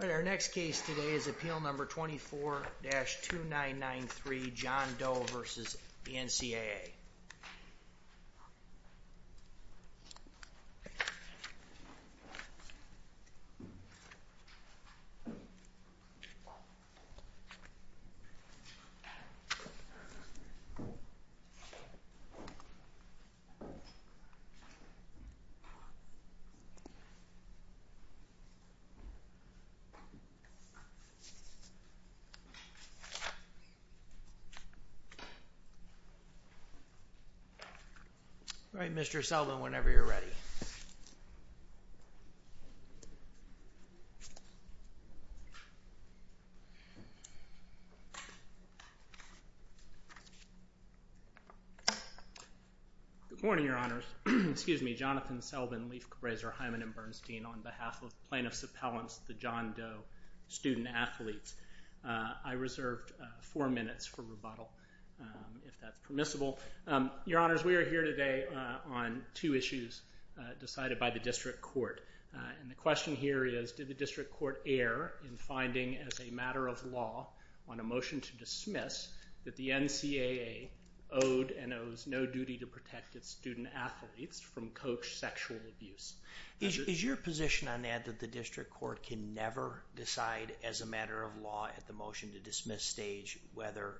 Our next case today is appeal number 24-2993 John Doe v. NCAA. All right, Mr. Selvin, whenever you're ready. Good morning, Your Honors. Excuse me, Jonathan Selvin, Leif Grazer, Hyman, and Bernstein on behalf of Plaintiffs Appellants, the John Doe student athletes. I reserved four minutes for rebuttal, if that's permissible. Your Honors, we are here today on two issues decided by the District Court. And the question here is, did the District Court err in finding as a matter of law on a motion to dismiss that the NCAA owed and owes no duty to protect its student athletes from coach sexual abuse? Is your position on that that the District Court can never decide as a matter of law at the motion to dismiss stage whether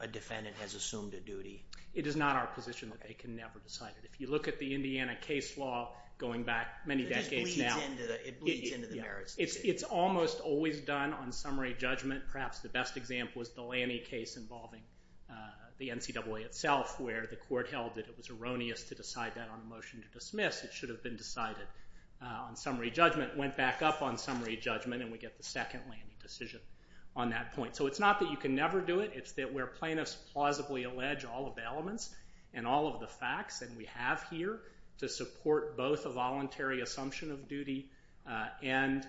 a defendant has assumed a duty? It is not our position that they can never decide it. If you look at the Indiana case law going back many decades now, it's almost always done on summary judgment. Perhaps the best example is the Lanny case involving the NCAA itself, where the court held that it was erroneous to decide that on a motion to dismiss. It should have been decided on summary judgment. It went back up on summary judgment, and we get the second Lanny decision on that point. So it's not that you can never do it. It's that where plaintiffs plausibly allege all of the elements and all of the facts that we have here to support both a voluntary assumption of duty and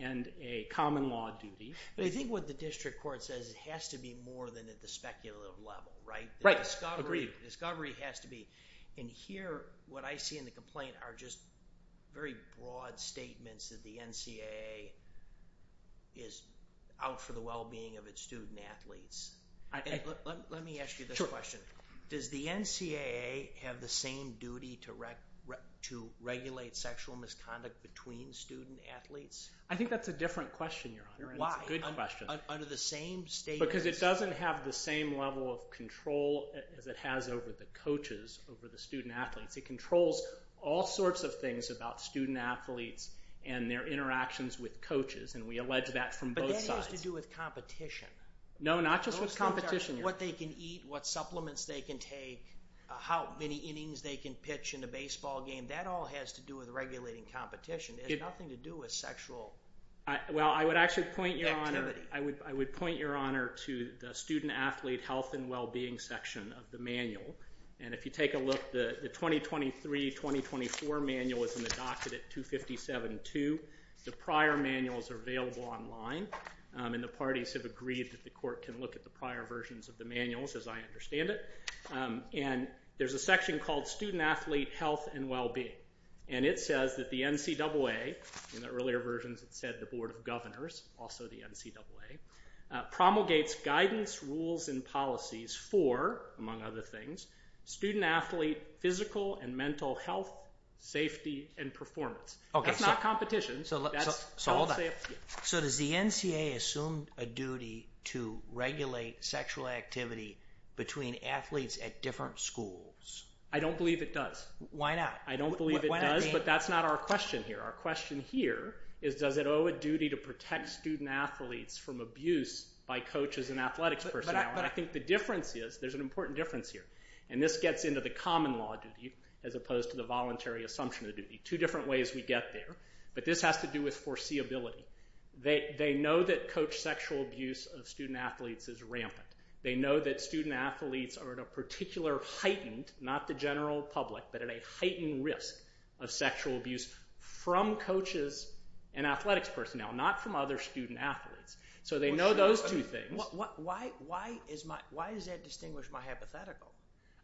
a common law duty. But I think what the District Court says it has to be more than at the speculative level, right? Right. Agreed. And here what I see in the complaint are just very broad statements that the NCAA is out for the well-being of its student-athletes. Let me ask you this question. Sure. Does the NCAA have the same duty to regulate sexual misconduct between student-athletes? I think that's a different question, Your Honor. Why? It's a good question. Because it doesn't have the same level of control as it has over the coaches, over the student-athletes. It controls all sorts of things about student-athletes and their interactions with coaches, and we allege that from both sides. But that has to do with competition. No, not just with competition. What they can eat, what supplements they can take, how many innings they can pitch in a baseball game. That all has to do with regulating competition. It has nothing to do with sexual activity. Well, I would actually point, Your Honor, to the student-athlete health and well-being section of the manual. And if you take a look, the 2023-2024 manual is in the docket at 257-2. The prior manuals are available online, and the parties have agreed that the court can look at the prior versions of the manuals, as I understand it. And there's a section called student-athlete health and well-being. And it says that the NCAA, in the earlier versions it said the Board of Governors, also the NCAA, promulgates guidance, rules, and policies for, among other things, student-athlete physical and mental health, safety, and performance. That's not competition. So does the NCAA assume a duty to regulate sexual activity between athletes at different schools? I don't believe it does. Why not? I don't believe it does, but that's not our question here. Our question here is, does it owe a duty to protect student-athletes from abuse by coaches and athletics personnel? And I think the difference is, there's an important difference here. And this gets into the common law duty, as opposed to the voluntary assumption of duty. Two different ways we get there. But this has to do with foreseeability. They know that coach sexual abuse of student-athletes is rampant. They know that student-athletes are at a particular heightened, not the general public, but at a heightened risk of sexual abuse from coaches and athletics personnel, not from other student-athletes. So they know those two things. Why does that distinguish my hypothetical?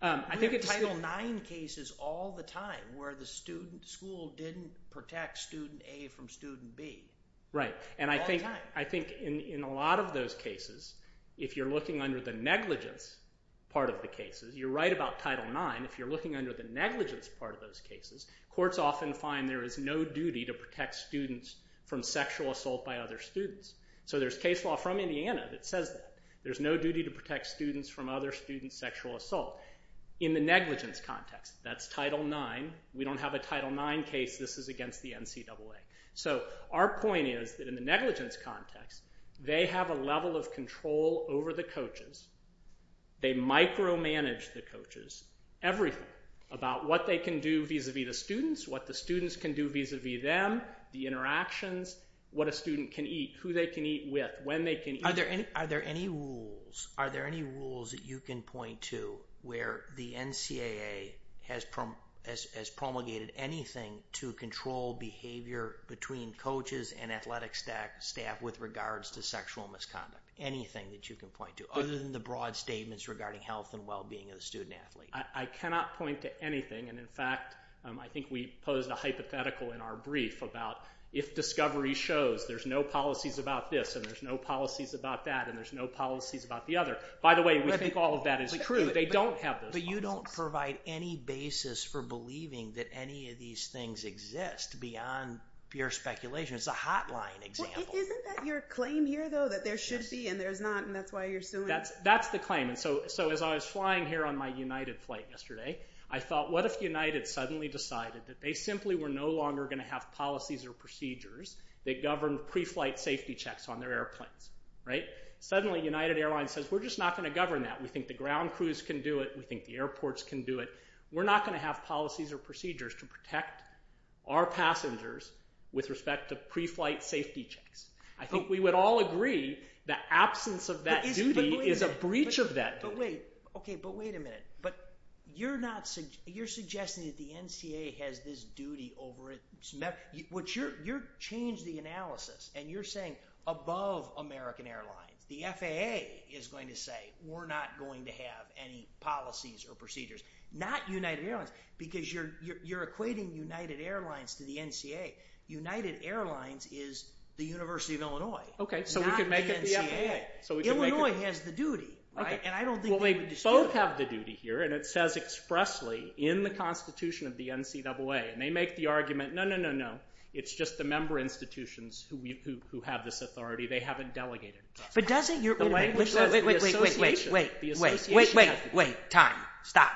We have Title IX cases all the time where the school didn't protect student A from student B. Right. All the time. I think in a lot of those cases, if you're looking under the negligence part of the cases, you're right about Title IX. If you're looking under the negligence part of those cases, courts often find there is no duty to protect students from sexual assault by other students. So there's case law from Indiana that says that. There's no duty to protect students from other students' sexual assault. In the negligence context, that's Title IX. We don't have a Title IX case. This is against the NCAA. So our point is that in the negligence context, they have a level of control over the coaches. They micromanage the coaches, everything about what they can do vis-a-vis the students, what the students can do vis-a-vis them, the interactions, what a student can eat, who they can eat with, when they can eat. Are there any rules that you can point to where the NCAA has promulgated anything to control behavior between coaches and athletic staff with regards to sexual misconduct? Anything that you can point to, other than the broad statements regarding health and well-being of the student athlete? I cannot point to anything. In fact, I think we posed a hypothetical in our brief about if discovery shows there's no policies about this and there's no policies about that and there's no policies about the other. By the way, we think all of that is true. They don't have those policies. But you don't provide any basis for believing that any of these things exist beyond pure speculation. It's a hotline example. Isn't that your claim here, though, that there should be and there's not, and that's why you're suing? That's the claim. As I was flying here on my United flight yesterday, I thought, what if United suddenly decided that they simply were no longer going to have policies or procedures that governed pre-flight safety checks on their airplanes? Suddenly, United Airlines says, we're just not going to govern that. We think the ground crews can do it. We think the airports can do it. We're not going to have policies or procedures to protect our passengers with respect to pre-flight safety checks. I think we would all agree that absence of that duty is a breach of that duty. But wait. OK, but wait a minute. But you're suggesting that the NCAA has this duty over its members. You've changed the analysis, and you're saying above American Airlines, the FAA is going to say, we're not going to have any policies or procedures. Not United Airlines, because you're equating United Airlines to the NCAA. United Airlines is the University of Illinois, not the NCAA. OK, so we can make it the FAA. Illinois has the duty, right? And I don't think you would dispute that. Well, they both have the duty here. And it says expressly in the Constitution of the NCAA. And they make the argument, no, no, no, no. It's just the member institutions who have this authority. They haven't delegated it to us. But doesn't your interpreter? Wait, wait, wait, wait. The association has the duty. Wait, wait, wait. Time. Stop.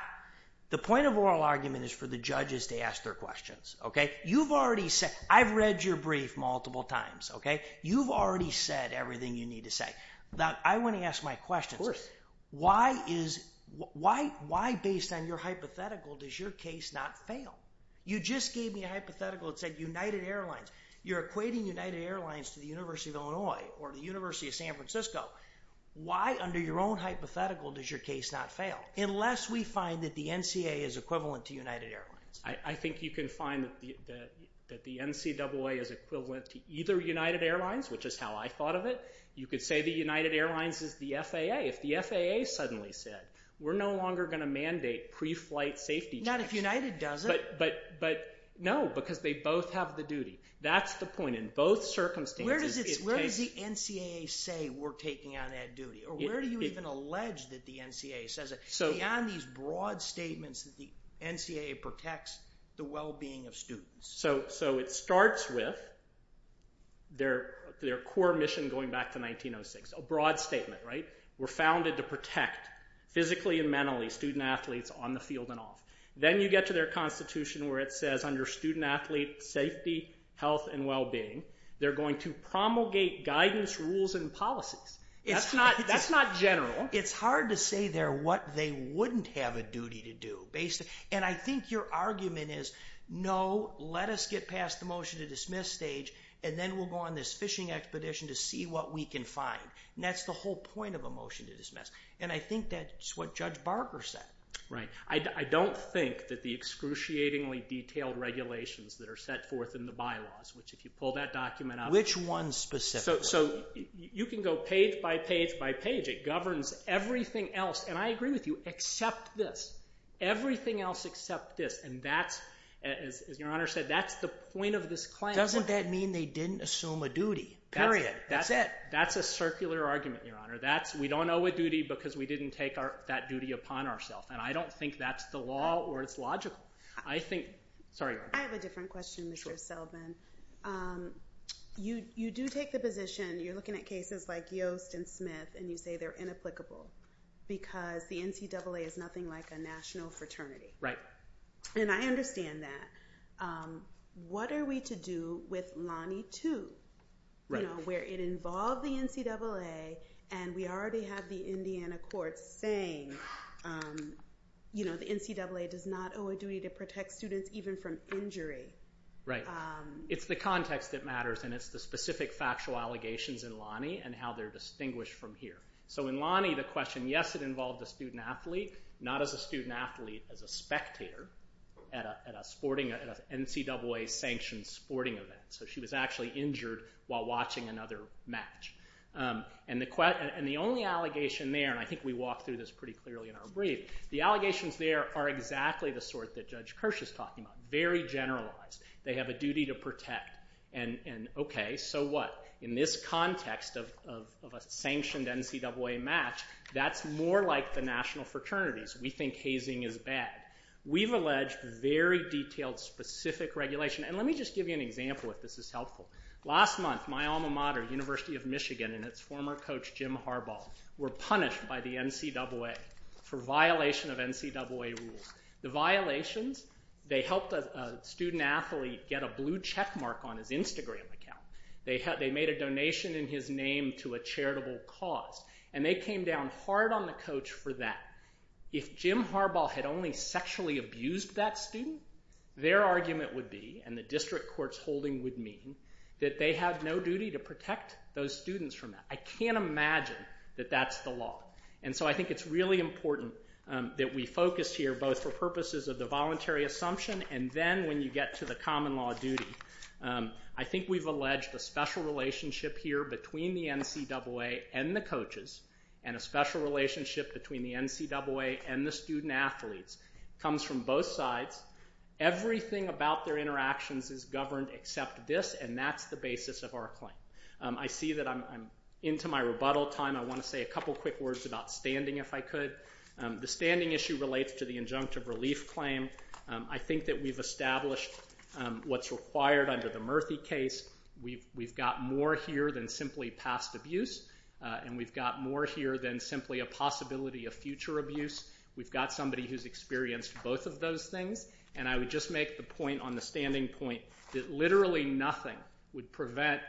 The point of oral argument is for the judges to ask their questions. OK? You've already said, I've read your brief multiple times, OK? You've already said everything you need to say. Now, I want to ask my question. Why is, why based on your hypothetical does your case not fail? You just gave me a hypothetical that said United Airlines. You're equating United Airlines to the University of Illinois or the University of San Francisco. Why under your own hypothetical does your case not fail? Unless we find that the NCAA is equivalent to United Airlines. I think you can find that the NCAA is equivalent to either United Airlines, which is how I thought of it. You could say the United Airlines is the FAA. If the FAA suddenly said, we're no longer going to mandate pre-flight safety checks. Not if United does it. But, but, but, no, because they both have the duty. That's the point. In both circumstances it takes. Where does it, where does the NCAA say we're taking on that duty? Or where do you even allege that the NCAA says it? Beyond these broad statements that the NCAA protects the well-being of students. So, so it starts with their, their core mission going back to 1906. A broad statement, right? We're founded to protect physically and mentally student athletes on the field and off. Then you get to their constitution where it says under student athlete safety, health, and well-being. They're going to promulgate guidance, rules, and policies. That's not, that's not general. It's hard to say there what they wouldn't have a duty to do. Basically, and I think your argument is, no, let us get past the motion to dismiss stage. And then we'll go on this fishing expedition to see what we can find. And that's the whole point of a motion to dismiss. And I think that's what Judge Barker said. Right. I, I don't think that the excruciatingly detailed regulations that are set forth in the bylaws. Which if you pull that document up. Which one specifically? So, so you can go page by page by page. It governs everything else. And I agree with you. Except this. Everything else except this. And that's, as your Honor said, that's the point of this claim. Doesn't that mean they didn't assume a duty? Period. That's it. That's a circular argument, your Honor. That's, we don't owe a duty because we didn't take our, that duty upon ourselves. And I don't think that's the law or it's logical. I think, sorry. I have a different question, Mr. Selvin. Sure. You, you do take the position, you're looking at cases like Yost and Smith. And you say they're inapplicable. Because the NCAA is nothing like a national fraternity. And I understand that. What are we to do with Lonnie 2? Right. You know, where it involved the NCAA. And we already have the Indiana courts saying, you know, the NCAA does not owe a duty to protect students even from injury. Right. It's the context that matters. And it's the specific factual allegations in Lonnie and how they're distinguished from here. So in Lonnie, the question, yes, it involved a student athlete. Not as a student athlete, as a spectator at a sporting, at a NCAA sanctioned sporting event. So she was actually injured while watching another match. And the only allegation there, and I think we walked through this pretty clearly in our brief. The allegations there are exactly the sort that Judge Kirsch is talking about. Very generalized. They have a duty to protect. And okay, so what? In this context of a sanctioned NCAA match, that's more like the national fraternities. We think hazing is bad. We've alleged very detailed specific regulation. And let me just give you an example if this is helpful. Last month, my alma mater, University of Michigan, and its former coach Jim Harbaugh were punished by the NCAA for violation of NCAA rules. The violations, they helped a student athlete get a blue checkmark on his Instagram account. They made a donation in his name to a charitable cause. And they came down hard on the coach for that. If Jim Harbaugh had only sexually abused that student, their argument would be, and the district court's holding would mean, that they have no duty to protect those students from that. I can't imagine that that's the law. And so I think it's really important that we focus here both for purposes of the voluntary assumption and then when you get to the common law duty. I think we've alleged a special relationship here between the NCAA and the coaches and a special relationship between the NCAA and the student athletes. It comes from both sides. Everything about their interactions is governed except this, and that's the basis of our claim. I see that I'm into my rebuttal time. I want to say a couple quick words about standing, if I could. The standing issue relates to the injunctive relief claim. I think that we've established what's required under the Murthy case. We've got more here than simply past abuse, and we've got more here than simply a possibility of future abuse. We've got somebody who's experienced both of those things, and I would just make the point on the standing point that literally nothing would prevent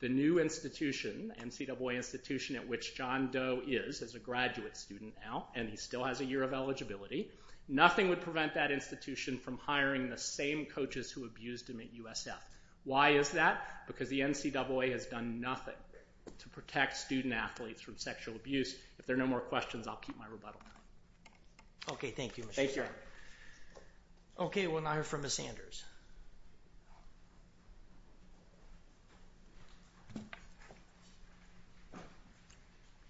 the new institution, the NCAA institution at which John Doe is as a graduate student now, and he still has a year of eligibility, nothing would prevent that institution from hiring the same coaches who abused him at USF. Why is that? Because the NCAA has done nothing to protect student athletes from sexual abuse. If there are no more questions, I'll keep my rebuttal time. Okay, thank you, Mr. Chairman. Thank you. Okay, we'll now hear from Ms. Sanders.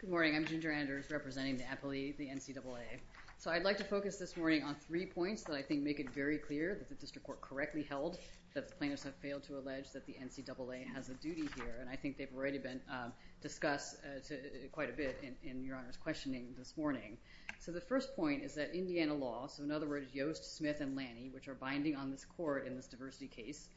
Good morning. I'm Ginger Anders representing the NCAA. So I'd like to focus this morning on three points that I think make it very clear that the district court correctly held that the plaintiffs have failed to allege that the NCAA has a duty here, and I think they've already been discussed quite a bit in Your Honor's questioning this morning. So the first point is that Indiana law, so in other words, Yost, Smith, and Laney, which are binding on this court in this diversity case,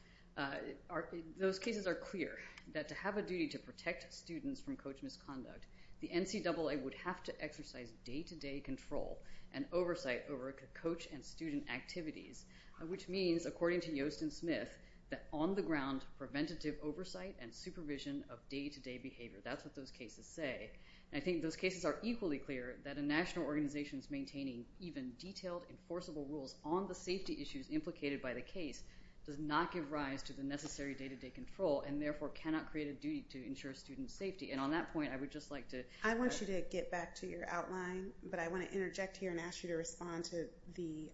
those cases are clear that to have a duty to protect students from coach misconduct, the NCAA would have to exercise day-to-day control and oversight over coach and student activities, which means, according to Yost and Smith, that on the ground preventative oversight and supervision of day-to-day behavior. That's what those cases say. And I think those cases are equally clear that a national organization's maintaining even detailed, enforceable rules on the safety issues implicated by the case does not give rise to the necessary day-to-day control and therefore cannot create a duty to ensure student safety. And on that point, I would just like to… I want you to get back to your outline, but I want to interject here and ask you to respond to the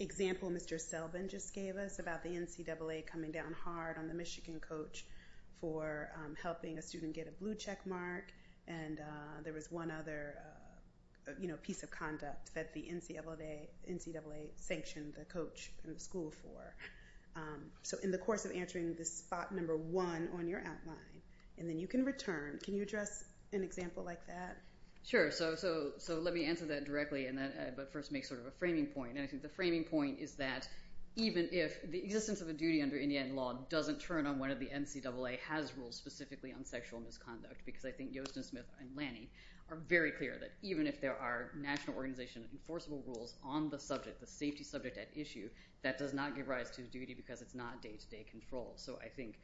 example Mr. Selvin just gave us about the NCAA coming down hard on the Michigan coach for helping a student get a blue checkmark, and there was one other piece of conduct that the NCAA sanctioned the coach and the school for. So in the course of answering this spot number one on your outline, and then you can return. Can you address an example like that? Sure. So let me answer that directly, but first make sort of a framing point. And I think the framing point is that even if the existence of a duty under Indiana law doesn't turn on whether the NCAA has rules specifically on sexual misconduct because I think Yost and Smith and Lanny are very clear that even if there are national organization enforceable rules on the subject, the safety subject at issue, that does not give rise to a duty because it's not day-to-day control. So I think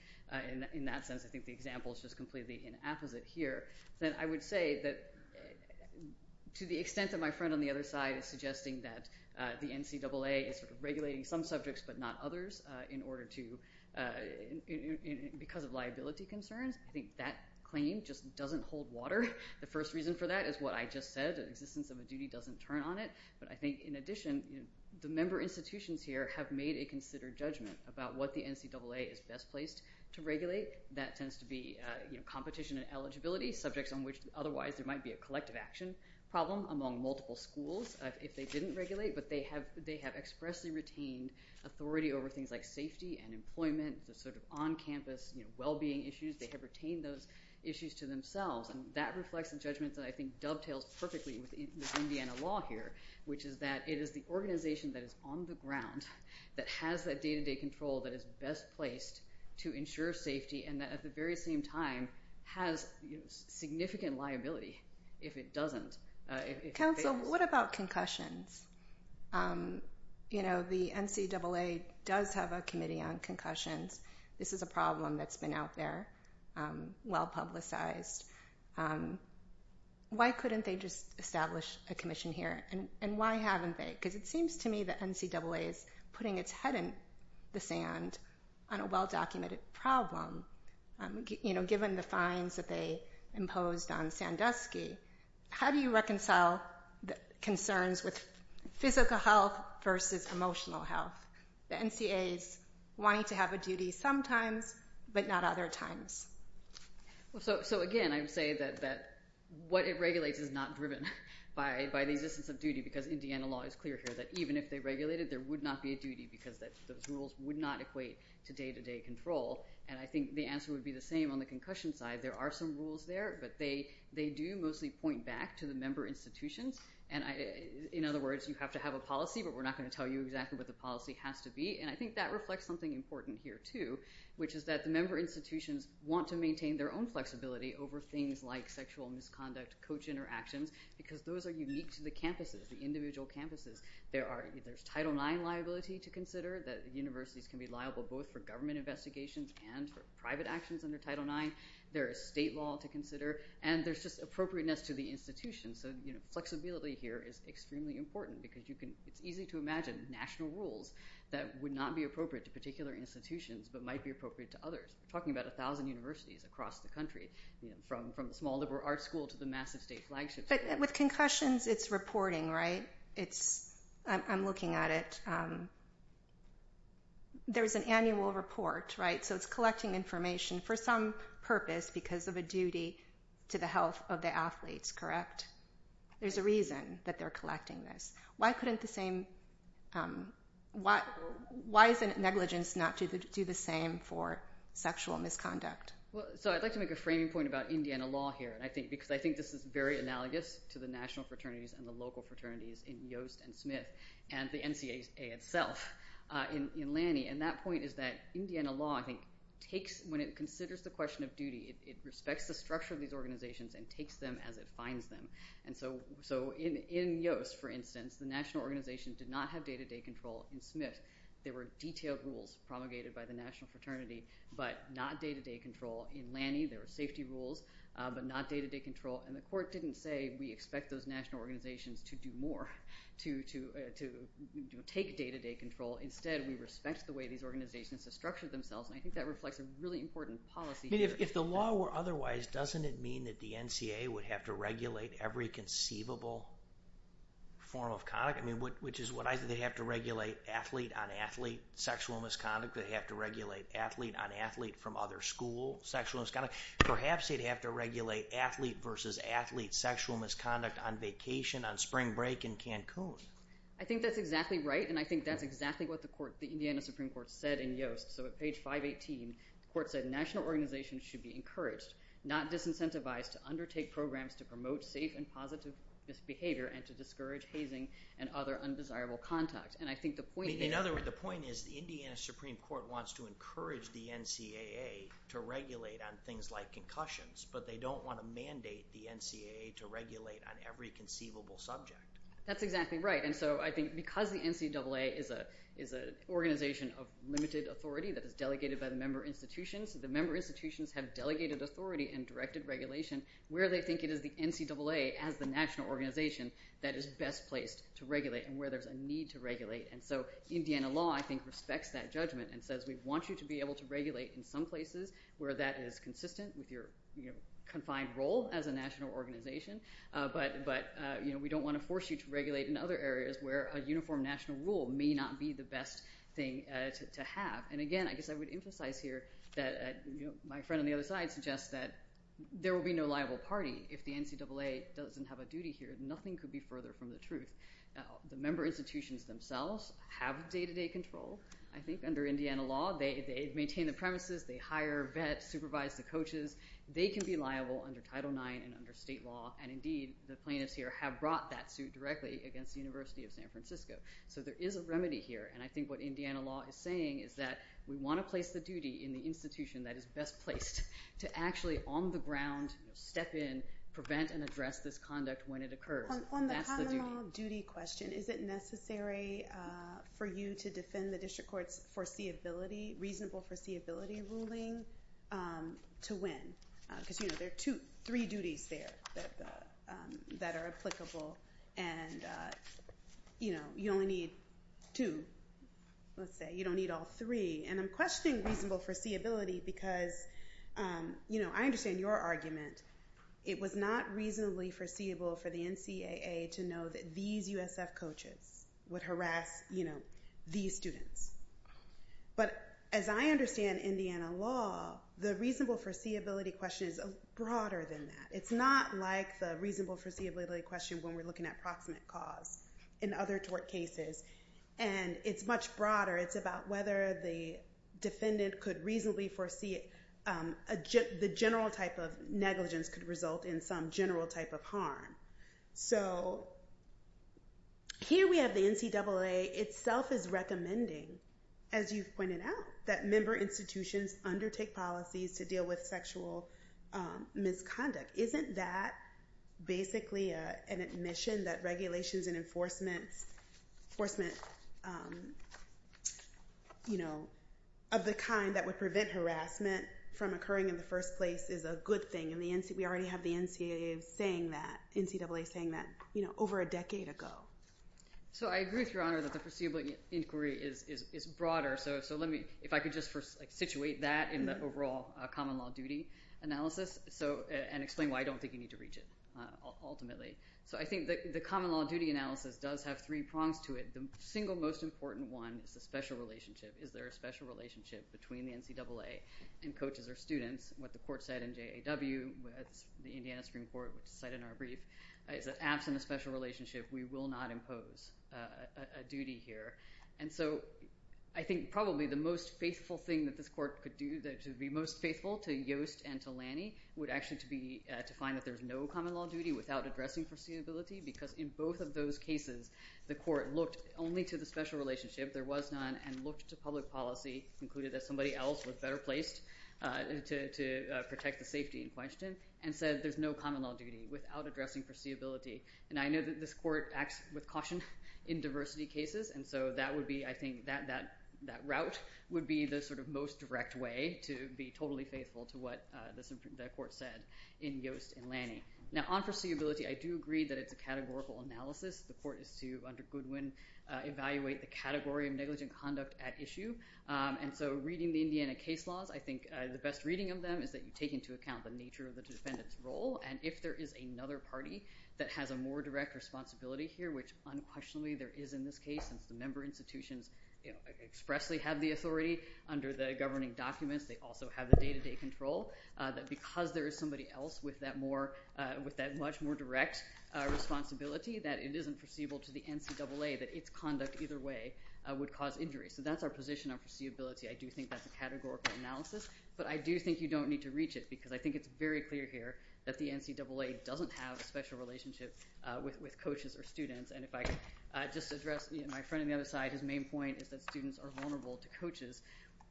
in that sense, I think the example is just completely inapposite here. Then I would say that to the extent that my friend on the other side is suggesting that the NCAA is sort of regulating some subjects but not others in order to – because of liability concerns, I think that claim just doesn't hold water. The first reason for that is what I just said, the existence of a duty doesn't turn on it. But I think in addition, the member institutions here have made a considered judgment about what the NCAA is best placed to regulate. That tends to be competition and eligibility, subjects on which otherwise there might be a collective action problem among multiple schools if they didn't regulate, but they have expressly retained authority over things like safety and employment, the sort of on-campus well-being issues. They have retained those issues to themselves. That reflects a judgment that I think dovetails perfectly with Indiana law here, which is that it is the organization that is on the ground that has that day-to-day control that is best placed to ensure safety and that at the very same time has significant liability if it doesn't. Council, what about concussions? You know, the NCAA does have a committee on concussions. This is a problem that's been out there, well-publicized. Why couldn't they just establish a commission here, and why haven't they? Because it seems to me the NCAA is putting its head in the sand on a well-documented problem. You know, given the fines that they imposed on Sandusky, how do you reconcile concerns with physical health versus emotional health? The NCAA is wanting to have a duty sometimes but not other times. So, again, I would say that what it regulates is not driven by the existence of duty because Indiana law is clear here that even if they regulated, there would not be a duty because those rules would not equate to day-to-day control. And I think the answer would be the same on the concussion side. There are some rules there, but they do mostly point back to the member institutions. And, in other words, you have to have a policy, but we're not going to tell you exactly what the policy has to be. And I think that reflects something important here too, which is that the member institutions want to maintain their own flexibility over things like sexual misconduct coach interactions because those are unique to the campuses, the individual campuses. There's Title IX liability to consider, that universities can be liable both for government investigations and for private actions under Title IX. There is state law to consider. And there's just appropriateness to the institutions. So flexibility here is extremely important because it's easy to imagine national rules that would not be appropriate to particular institutions but might be appropriate to others. We're talking about 1,000 universities across the country, from the small liberal arts school to the massive state flagship school. But with concussions, it's reporting, right? I'm looking at it. There's an annual report, right? So it's collecting information. For some purpose, because of a duty to the health of the athletes, correct? There's a reason that they're collecting this. Why couldn't the same—why is it negligence not to do the same for sexual misconduct? So I'd like to make a framing point about Indiana law here because I think this is very analogous to the national fraternities and the local fraternities in Yost and Smith and the NCAA itself in Lanny. And that point is that Indiana law, I think, takes—when it considers the question of duty, it respects the structure of these organizations and takes them as it finds them. And so in Yost, for instance, the national organization did not have day-to-day control. In Smith, there were detailed rules promulgated by the national fraternity but not day-to-day control. In Lanny, there were safety rules but not day-to-day control. And the court didn't say we expect those national organizations to do more, to take day-to-day control. Instead, we respect the way these organizations have structured themselves, and I think that reflects a really important policy— I mean, if the law were otherwise, doesn't it mean that the NCAA would have to regulate every conceivable form of conduct? I mean, which is what I—they have to regulate athlete-on-athlete sexual misconduct. They have to regulate athlete-on-athlete from other school sexual misconduct. Perhaps they'd have to regulate athlete-versus-athlete sexual misconduct on vacation, on spring break in Cancun. I think that's exactly right, and I think that's exactly what the court, the Indiana Supreme Court, said in Yoast. So at page 518, the court said national organizations should be encouraged, not disincentivized, to undertake programs to promote safe and positive behavior and to discourage hazing and other undesirable conduct. And I think the point— In other words, the point is the Indiana Supreme Court wants to encourage the NCAA to regulate on things like concussions, but they don't want to mandate the NCAA to regulate on every conceivable subject. That's exactly right. And so I think because the NCAA is an organization of limited authority that is delegated by the member institutions, the member institutions have delegated authority and directed regulation where they think it is the NCAA as the national organization that is best placed to regulate and where there's a need to regulate. And so Indiana law, I think, respects that judgment and says we want you to be able to regulate in some places where that is consistent with your confined role as a national organization, but we don't want to force you to regulate in other areas where a uniform national rule may not be the best thing to have. And again, I guess I would emphasize here that my friend on the other side suggests that there will be no liable party if the NCAA doesn't have a duty here. Nothing could be further from the truth. The member institutions themselves have day-to-day control, I think, under Indiana law. They maintain the premises. They hire, vet, supervise the coaches. They can be liable under Title IX and under state law, and indeed the plaintiffs here have brought that suit directly against the University of San Francisco. So there is a remedy here, and I think what Indiana law is saying is that we want to place the duty in the institution that is best placed to actually on the ground step in, prevent, and address this conduct when it occurs. And that's the duty. On the common law duty question, is it necessary for you to defend the district court's foreseeability, reasonable foreseeability ruling to win? Because there are three duties there that are applicable, and you only need two, let's say. You don't need all three. And I'm questioning reasonable foreseeability because I understand your argument. It was not reasonably foreseeable for the NCAA to know that these USF coaches would harass these students. But as I understand Indiana law, the reasonable foreseeability question is broader than that. It's not like the reasonable foreseeability question when we're looking at proximate cause in other tort cases, and it's much broader. It's about whether the defendant could reasonably foresee the general type of negligence could result in some general type of harm. So here we have the NCAA itself is recommending, as you've pointed out, that member institutions undertake policies to deal with sexual misconduct. Isn't that basically an admission that regulations and enforcement of the kind that would prevent harassment from occurring in the first place is a good thing? We already have the NCAA saying that over a decade ago. So I agree with Your Honor that the foreseeable inquiry is broader. So if I could just situate that in the overall common law duty analysis and explain why I don't think you need to reach it ultimately. So I think the common law duty analysis does have three prongs to it. The single most important one is the special relationship. Is there a special relationship between the NCAA and coaches or students? That's what the court said in JAW. That's what the Indiana Supreme Court said in our brief. It's that absent a special relationship, we will not impose a duty here. So I think probably the most faithful thing that this court could do to be most faithful to Yost and to Lanney would actually be to find that there's no common law duty without addressing foreseeability because in both of those cases, the court looked only to the special relationship. There was none, and looked to public policy, concluded that somebody else was better placed to protect the safety in question and said there's no common law duty without addressing foreseeability. And I know that this court acts with caution in diversity cases, and so that would be, I think, that route would be the sort of most direct way to be totally faithful to what the court said in Yost and Lanney. Now on foreseeability, I do agree that it's a categorical analysis. The court is to, under Goodwin, evaluate the category of negligent conduct at issue. And so reading the Indiana case laws, I think the best reading of them is that you take into account the nature of the defendant's role, and if there is another party that has a more direct responsibility here, which unquestionably there is in this case since the member institutions expressly have the authority under the governing documents, they also have the day-to-day control, that because there is somebody else with that much more direct responsibility, that it isn't foreseeable to the NCAA that its conduct either way would cause injury. So that's our position on foreseeability. I do think that's a categorical analysis, but I do think you don't need to reach it because I think it's very clear here that the NCAA doesn't have a special relationship with coaches or students. And if I just address my friend on the other side, his main point is that students are vulnerable to coaches.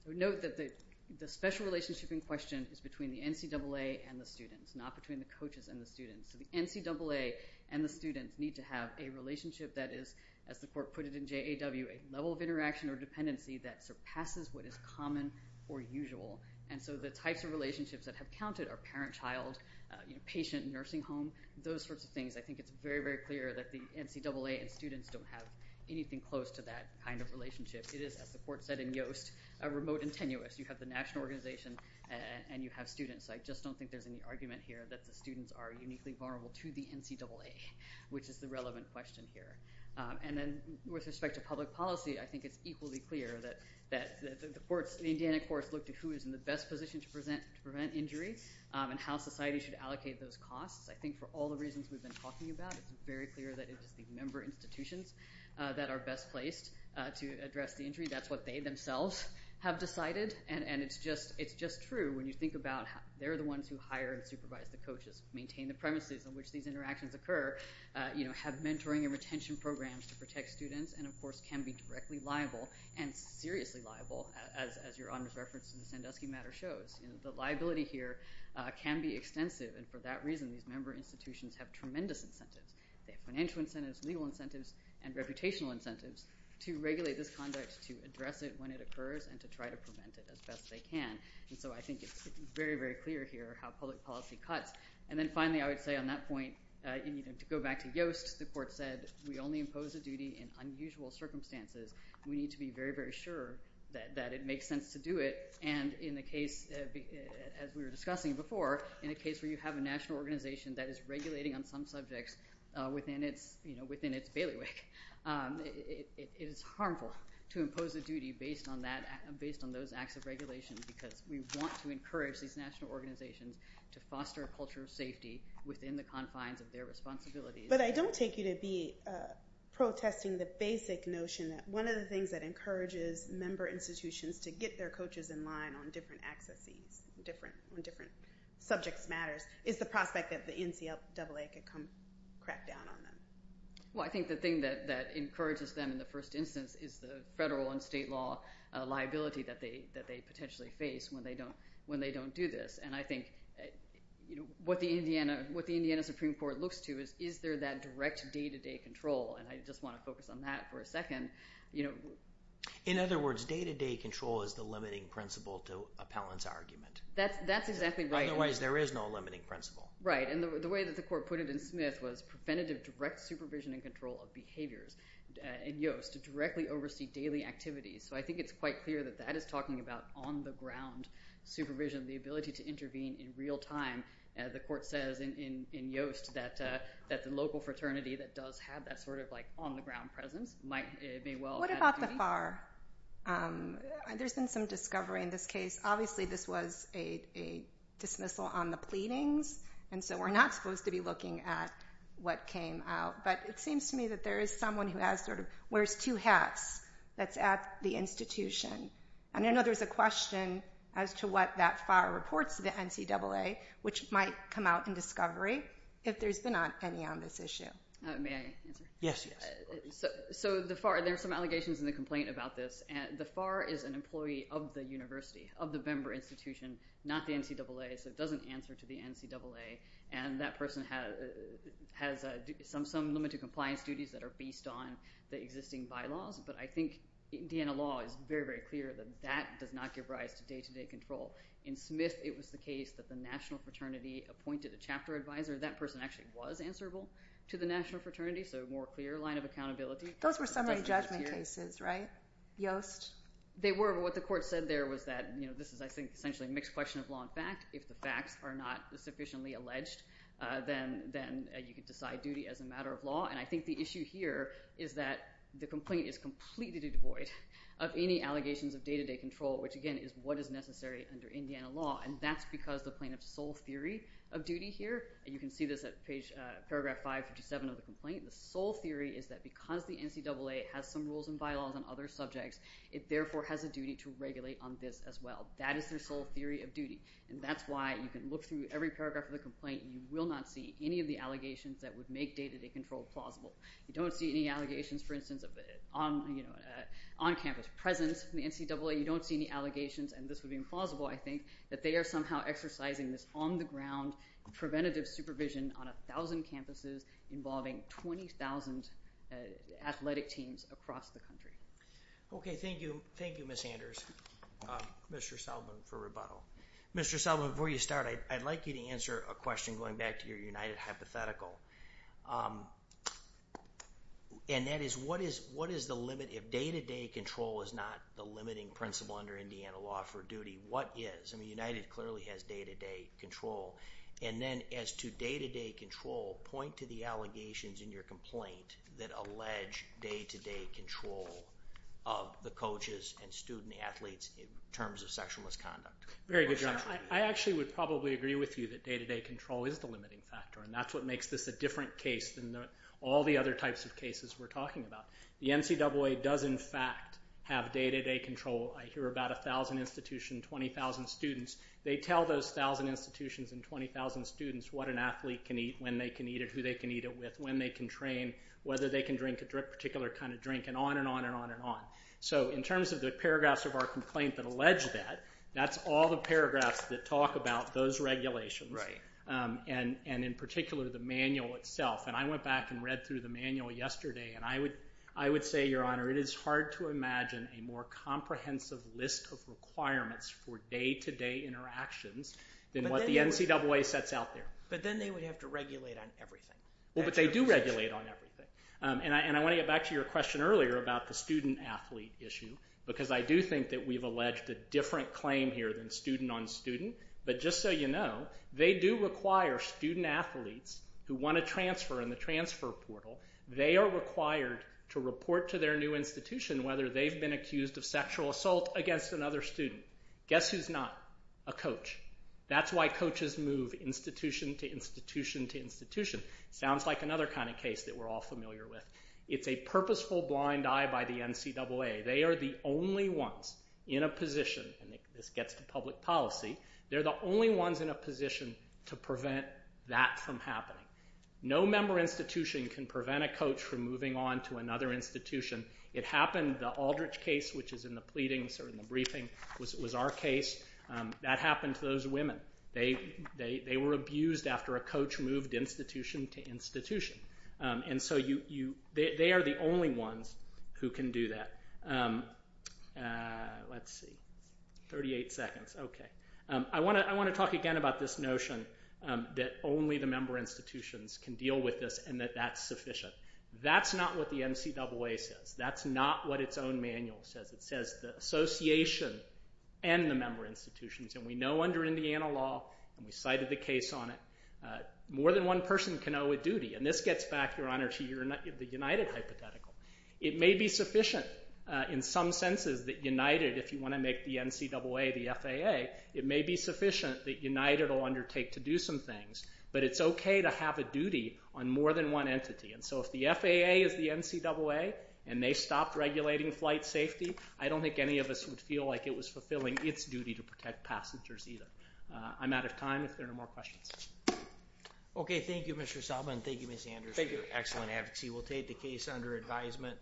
Note that the special relationship in question is between the NCAA and the students, not between the coaches and the students. So the NCAA and the students need to have a relationship that is, as the court put it in JAW, a level of interaction or dependency that surpasses what is common or usual. And so the types of relationships that have counted are parent-child, patient-nursing home, those sorts of things. I think it's very, very clear that the NCAA and students don't have anything close to that kind of relationship. It is, as the court said in Yoast, remote and tenuous. You have the national organization and you have students. I just don't think there's any argument here that the students are uniquely vulnerable to the NCAA, which is the relevant question here. And then with respect to public policy, I think it's equally clear that the courts, the Indiana courts look to who is in the best position to prevent injury and how society should allocate those costs. I think for all the reasons we've been talking about, it's very clear that it is the member institutions that are best placed to address the injury. That's what they themselves have decided. And it's just true when you think about they're the ones who hire and supervise the coaches, maintain the premises in which these interactions occur, have mentoring and retention programs to protect students, and of course can be directly liable and seriously liable, as your honors reference in the Sandusky matter shows. The liability here can be extensive, and for that reason, these member institutions have tremendous incentives. They have financial incentives, legal incentives, and reputational incentives to regulate this conduct, to address it when it occurs, and to try to prevent it as best they can. And so I think it's very, very clear here how public policy cuts. And then finally, I would say on that point, to go back to Yoast, the court said we only impose a duty in unusual circumstances. We need to be very, very sure that it makes sense to do it. And in the case, as we were discussing before, in a case where you have a national organization that is regulating on some subjects within its bailiwick, it is harmful to impose a duty based on those acts of regulation because we want to encourage these national organizations to foster a culture of safety within the confines of their responsibilities. But I don't take you to be protesting the basic notion that one of the things that encourages member institutions to get their coaches in line on different accesses, on different subjects matters, is the prospect that the NCAA could come crack down on them. Well, I think the thing that encourages them in the first instance is the federal and state law liability that they potentially face when they don't do this. And I think what the Indiana Supreme Court looks to is, is there that direct day-to-day control? And I just want to focus on that for a second. In other words, day-to-day control is the limiting principle to appellant's argument. That's exactly right. Otherwise, there is no limiting principle. Right. And the way that the court put it in Smith was preventative direct supervision and control of behaviors in Yost to directly oversee daily activities. So I think it's quite clear that that is talking about on-the-ground supervision, the ability to intervene in real time. The court says in Yost that the local fraternity that does have that sort of like on-the-ground presence might be well- What about the FAR? There's been some discovery in this case. Obviously, this was a dismissal on the pleadings, and so we're not supposed to be looking at what came out. But it seems to me that there is someone who wears two hats that's at the institution. And I know there's a question as to what that FAR reports to the NCAA, which might come out in discovery if there's been any on this issue. May I answer? Yes. So the FAR, there are some allegations in the complaint about this. The FAR is an employee of the university, of the Bember Institution, not the NCAA. So it doesn't answer to the NCAA. And that person has some limited compliance duties that are based on the existing bylaws. But I think Indiana law is very, very clear that that does not give rise to day-to-day control. In Smith, it was the case that the national fraternity appointed a chapter advisor. That person actually was answerable to the national fraternity, so a more clear line of accountability. Those were summary judgment cases, right, Yost? They were. But what the court said there was that this is, I think, essentially a mixed question of law and fact. If the facts are not sufficiently alleged, then you can decide duty as a matter of law. And I think the issue here is that the complaint is completely devoid of any allegations of day-to-day control, which, again, is what is necessary under Indiana law. And that's because the plaintiff's sole theory of duty here, and you can see this at paragraph 557 of the complaint, the sole theory is that because the NCAA has some rules and bylaws on other subjects, it therefore has a duty to regulate on this as well. That is their sole theory of duty. And that's why you can look through every paragraph of the complaint, and you will not see any of the allegations that would make day-to-day control plausible. You don't see any allegations, for instance, of on-campus presence in the NCAA. You don't see any allegations, and this would be implausible, I think, that they are somehow exercising this on-the-ground preventative supervision on 1,000 campuses, involving 20,000 athletic teams across the country. Okay, thank you. Thank you, Ms. Anders, Mr. Selman, for rebuttal. Mr. Selman, before you start, I'd like you to answer a question going back to your United hypothetical. And that is, what is the limit if day-to-day control is not the limiting principle under Indiana law for duty? What is? I mean, United clearly has day-to-day control. And then as to day-to-day control, point to the allegations in your complaint that allege day-to-day control of the coaches and student athletes in terms of sexual misconduct. Very good, John. I actually would probably agree with you that day-to-day control is the limiting factor, and that's what makes this a different case than all the other types of cases we're talking about. The NCAA does, in fact, have day-to-day control. I hear about 1,000 institutions, 20,000 students. They tell those 1,000 institutions and 20,000 students what an athlete can eat, when they can eat it, who they can eat it with, when they can train, whether they can drink a particular kind of drink, and on and on and on and on. So in terms of the paragraphs of our complaint that allege that, that's all the paragraphs that talk about those regulations, and in particular the manual itself. And I went back and read through the manual yesterday, and I would say, Your Honor, it is hard to imagine a more comprehensive list of requirements for day-to-day interactions than what the NCAA sets out there. But then they would have to regulate on everything. Well, but they do regulate on everything. And I want to get back to your question earlier about the student-athlete issue, because I do think that we've alleged a different claim here than student-on-student. But just so you know, they do require student athletes who want to transfer in the transfer portal, they are required to report to their new institution whether they've been accused of sexual assault against another student. Guess who's not? A coach. That's why coaches move institution to institution to institution. Sounds like another kind of case that we're all familiar with. It's a purposeful blind eye by the NCAA. They are the only ones in a position, and this gets to public policy, they're the only ones in a position to prevent that from happening. No member institution can prevent a coach from moving on to another institution. It happened, the Aldrich case, which is in the pleadings or in the briefing, was our case. That happened to those women. They were abused after a coach moved institution to institution. And so they are the only ones who can do that. Let's see. 38 seconds, okay. I want to talk again about this notion that only the member institutions can deal with this and that that's sufficient. That's not what the NCAA says. That's not what its own manual says. It says the association and the member institutions, and we know under Indiana law, and we cited the case on it, more than one person can owe a duty, and this gets back, Your Honor, to the United hypothetical. It may be sufficient in some senses that United, if you want to make the NCAA the FAA, it may be sufficient that United will undertake to do some things, but it's okay to have a duty on more than one entity. And so if the FAA is the NCAA and they stopped regulating flight safety, I don't think any of us would feel like it was fulfilling its duty to protect passengers either. I'm out of time if there are no more questions. Okay, thank you, Mr. Selma, and thank you, Ms. Anders, for your excellent advocacy. We'll take the case under advisement.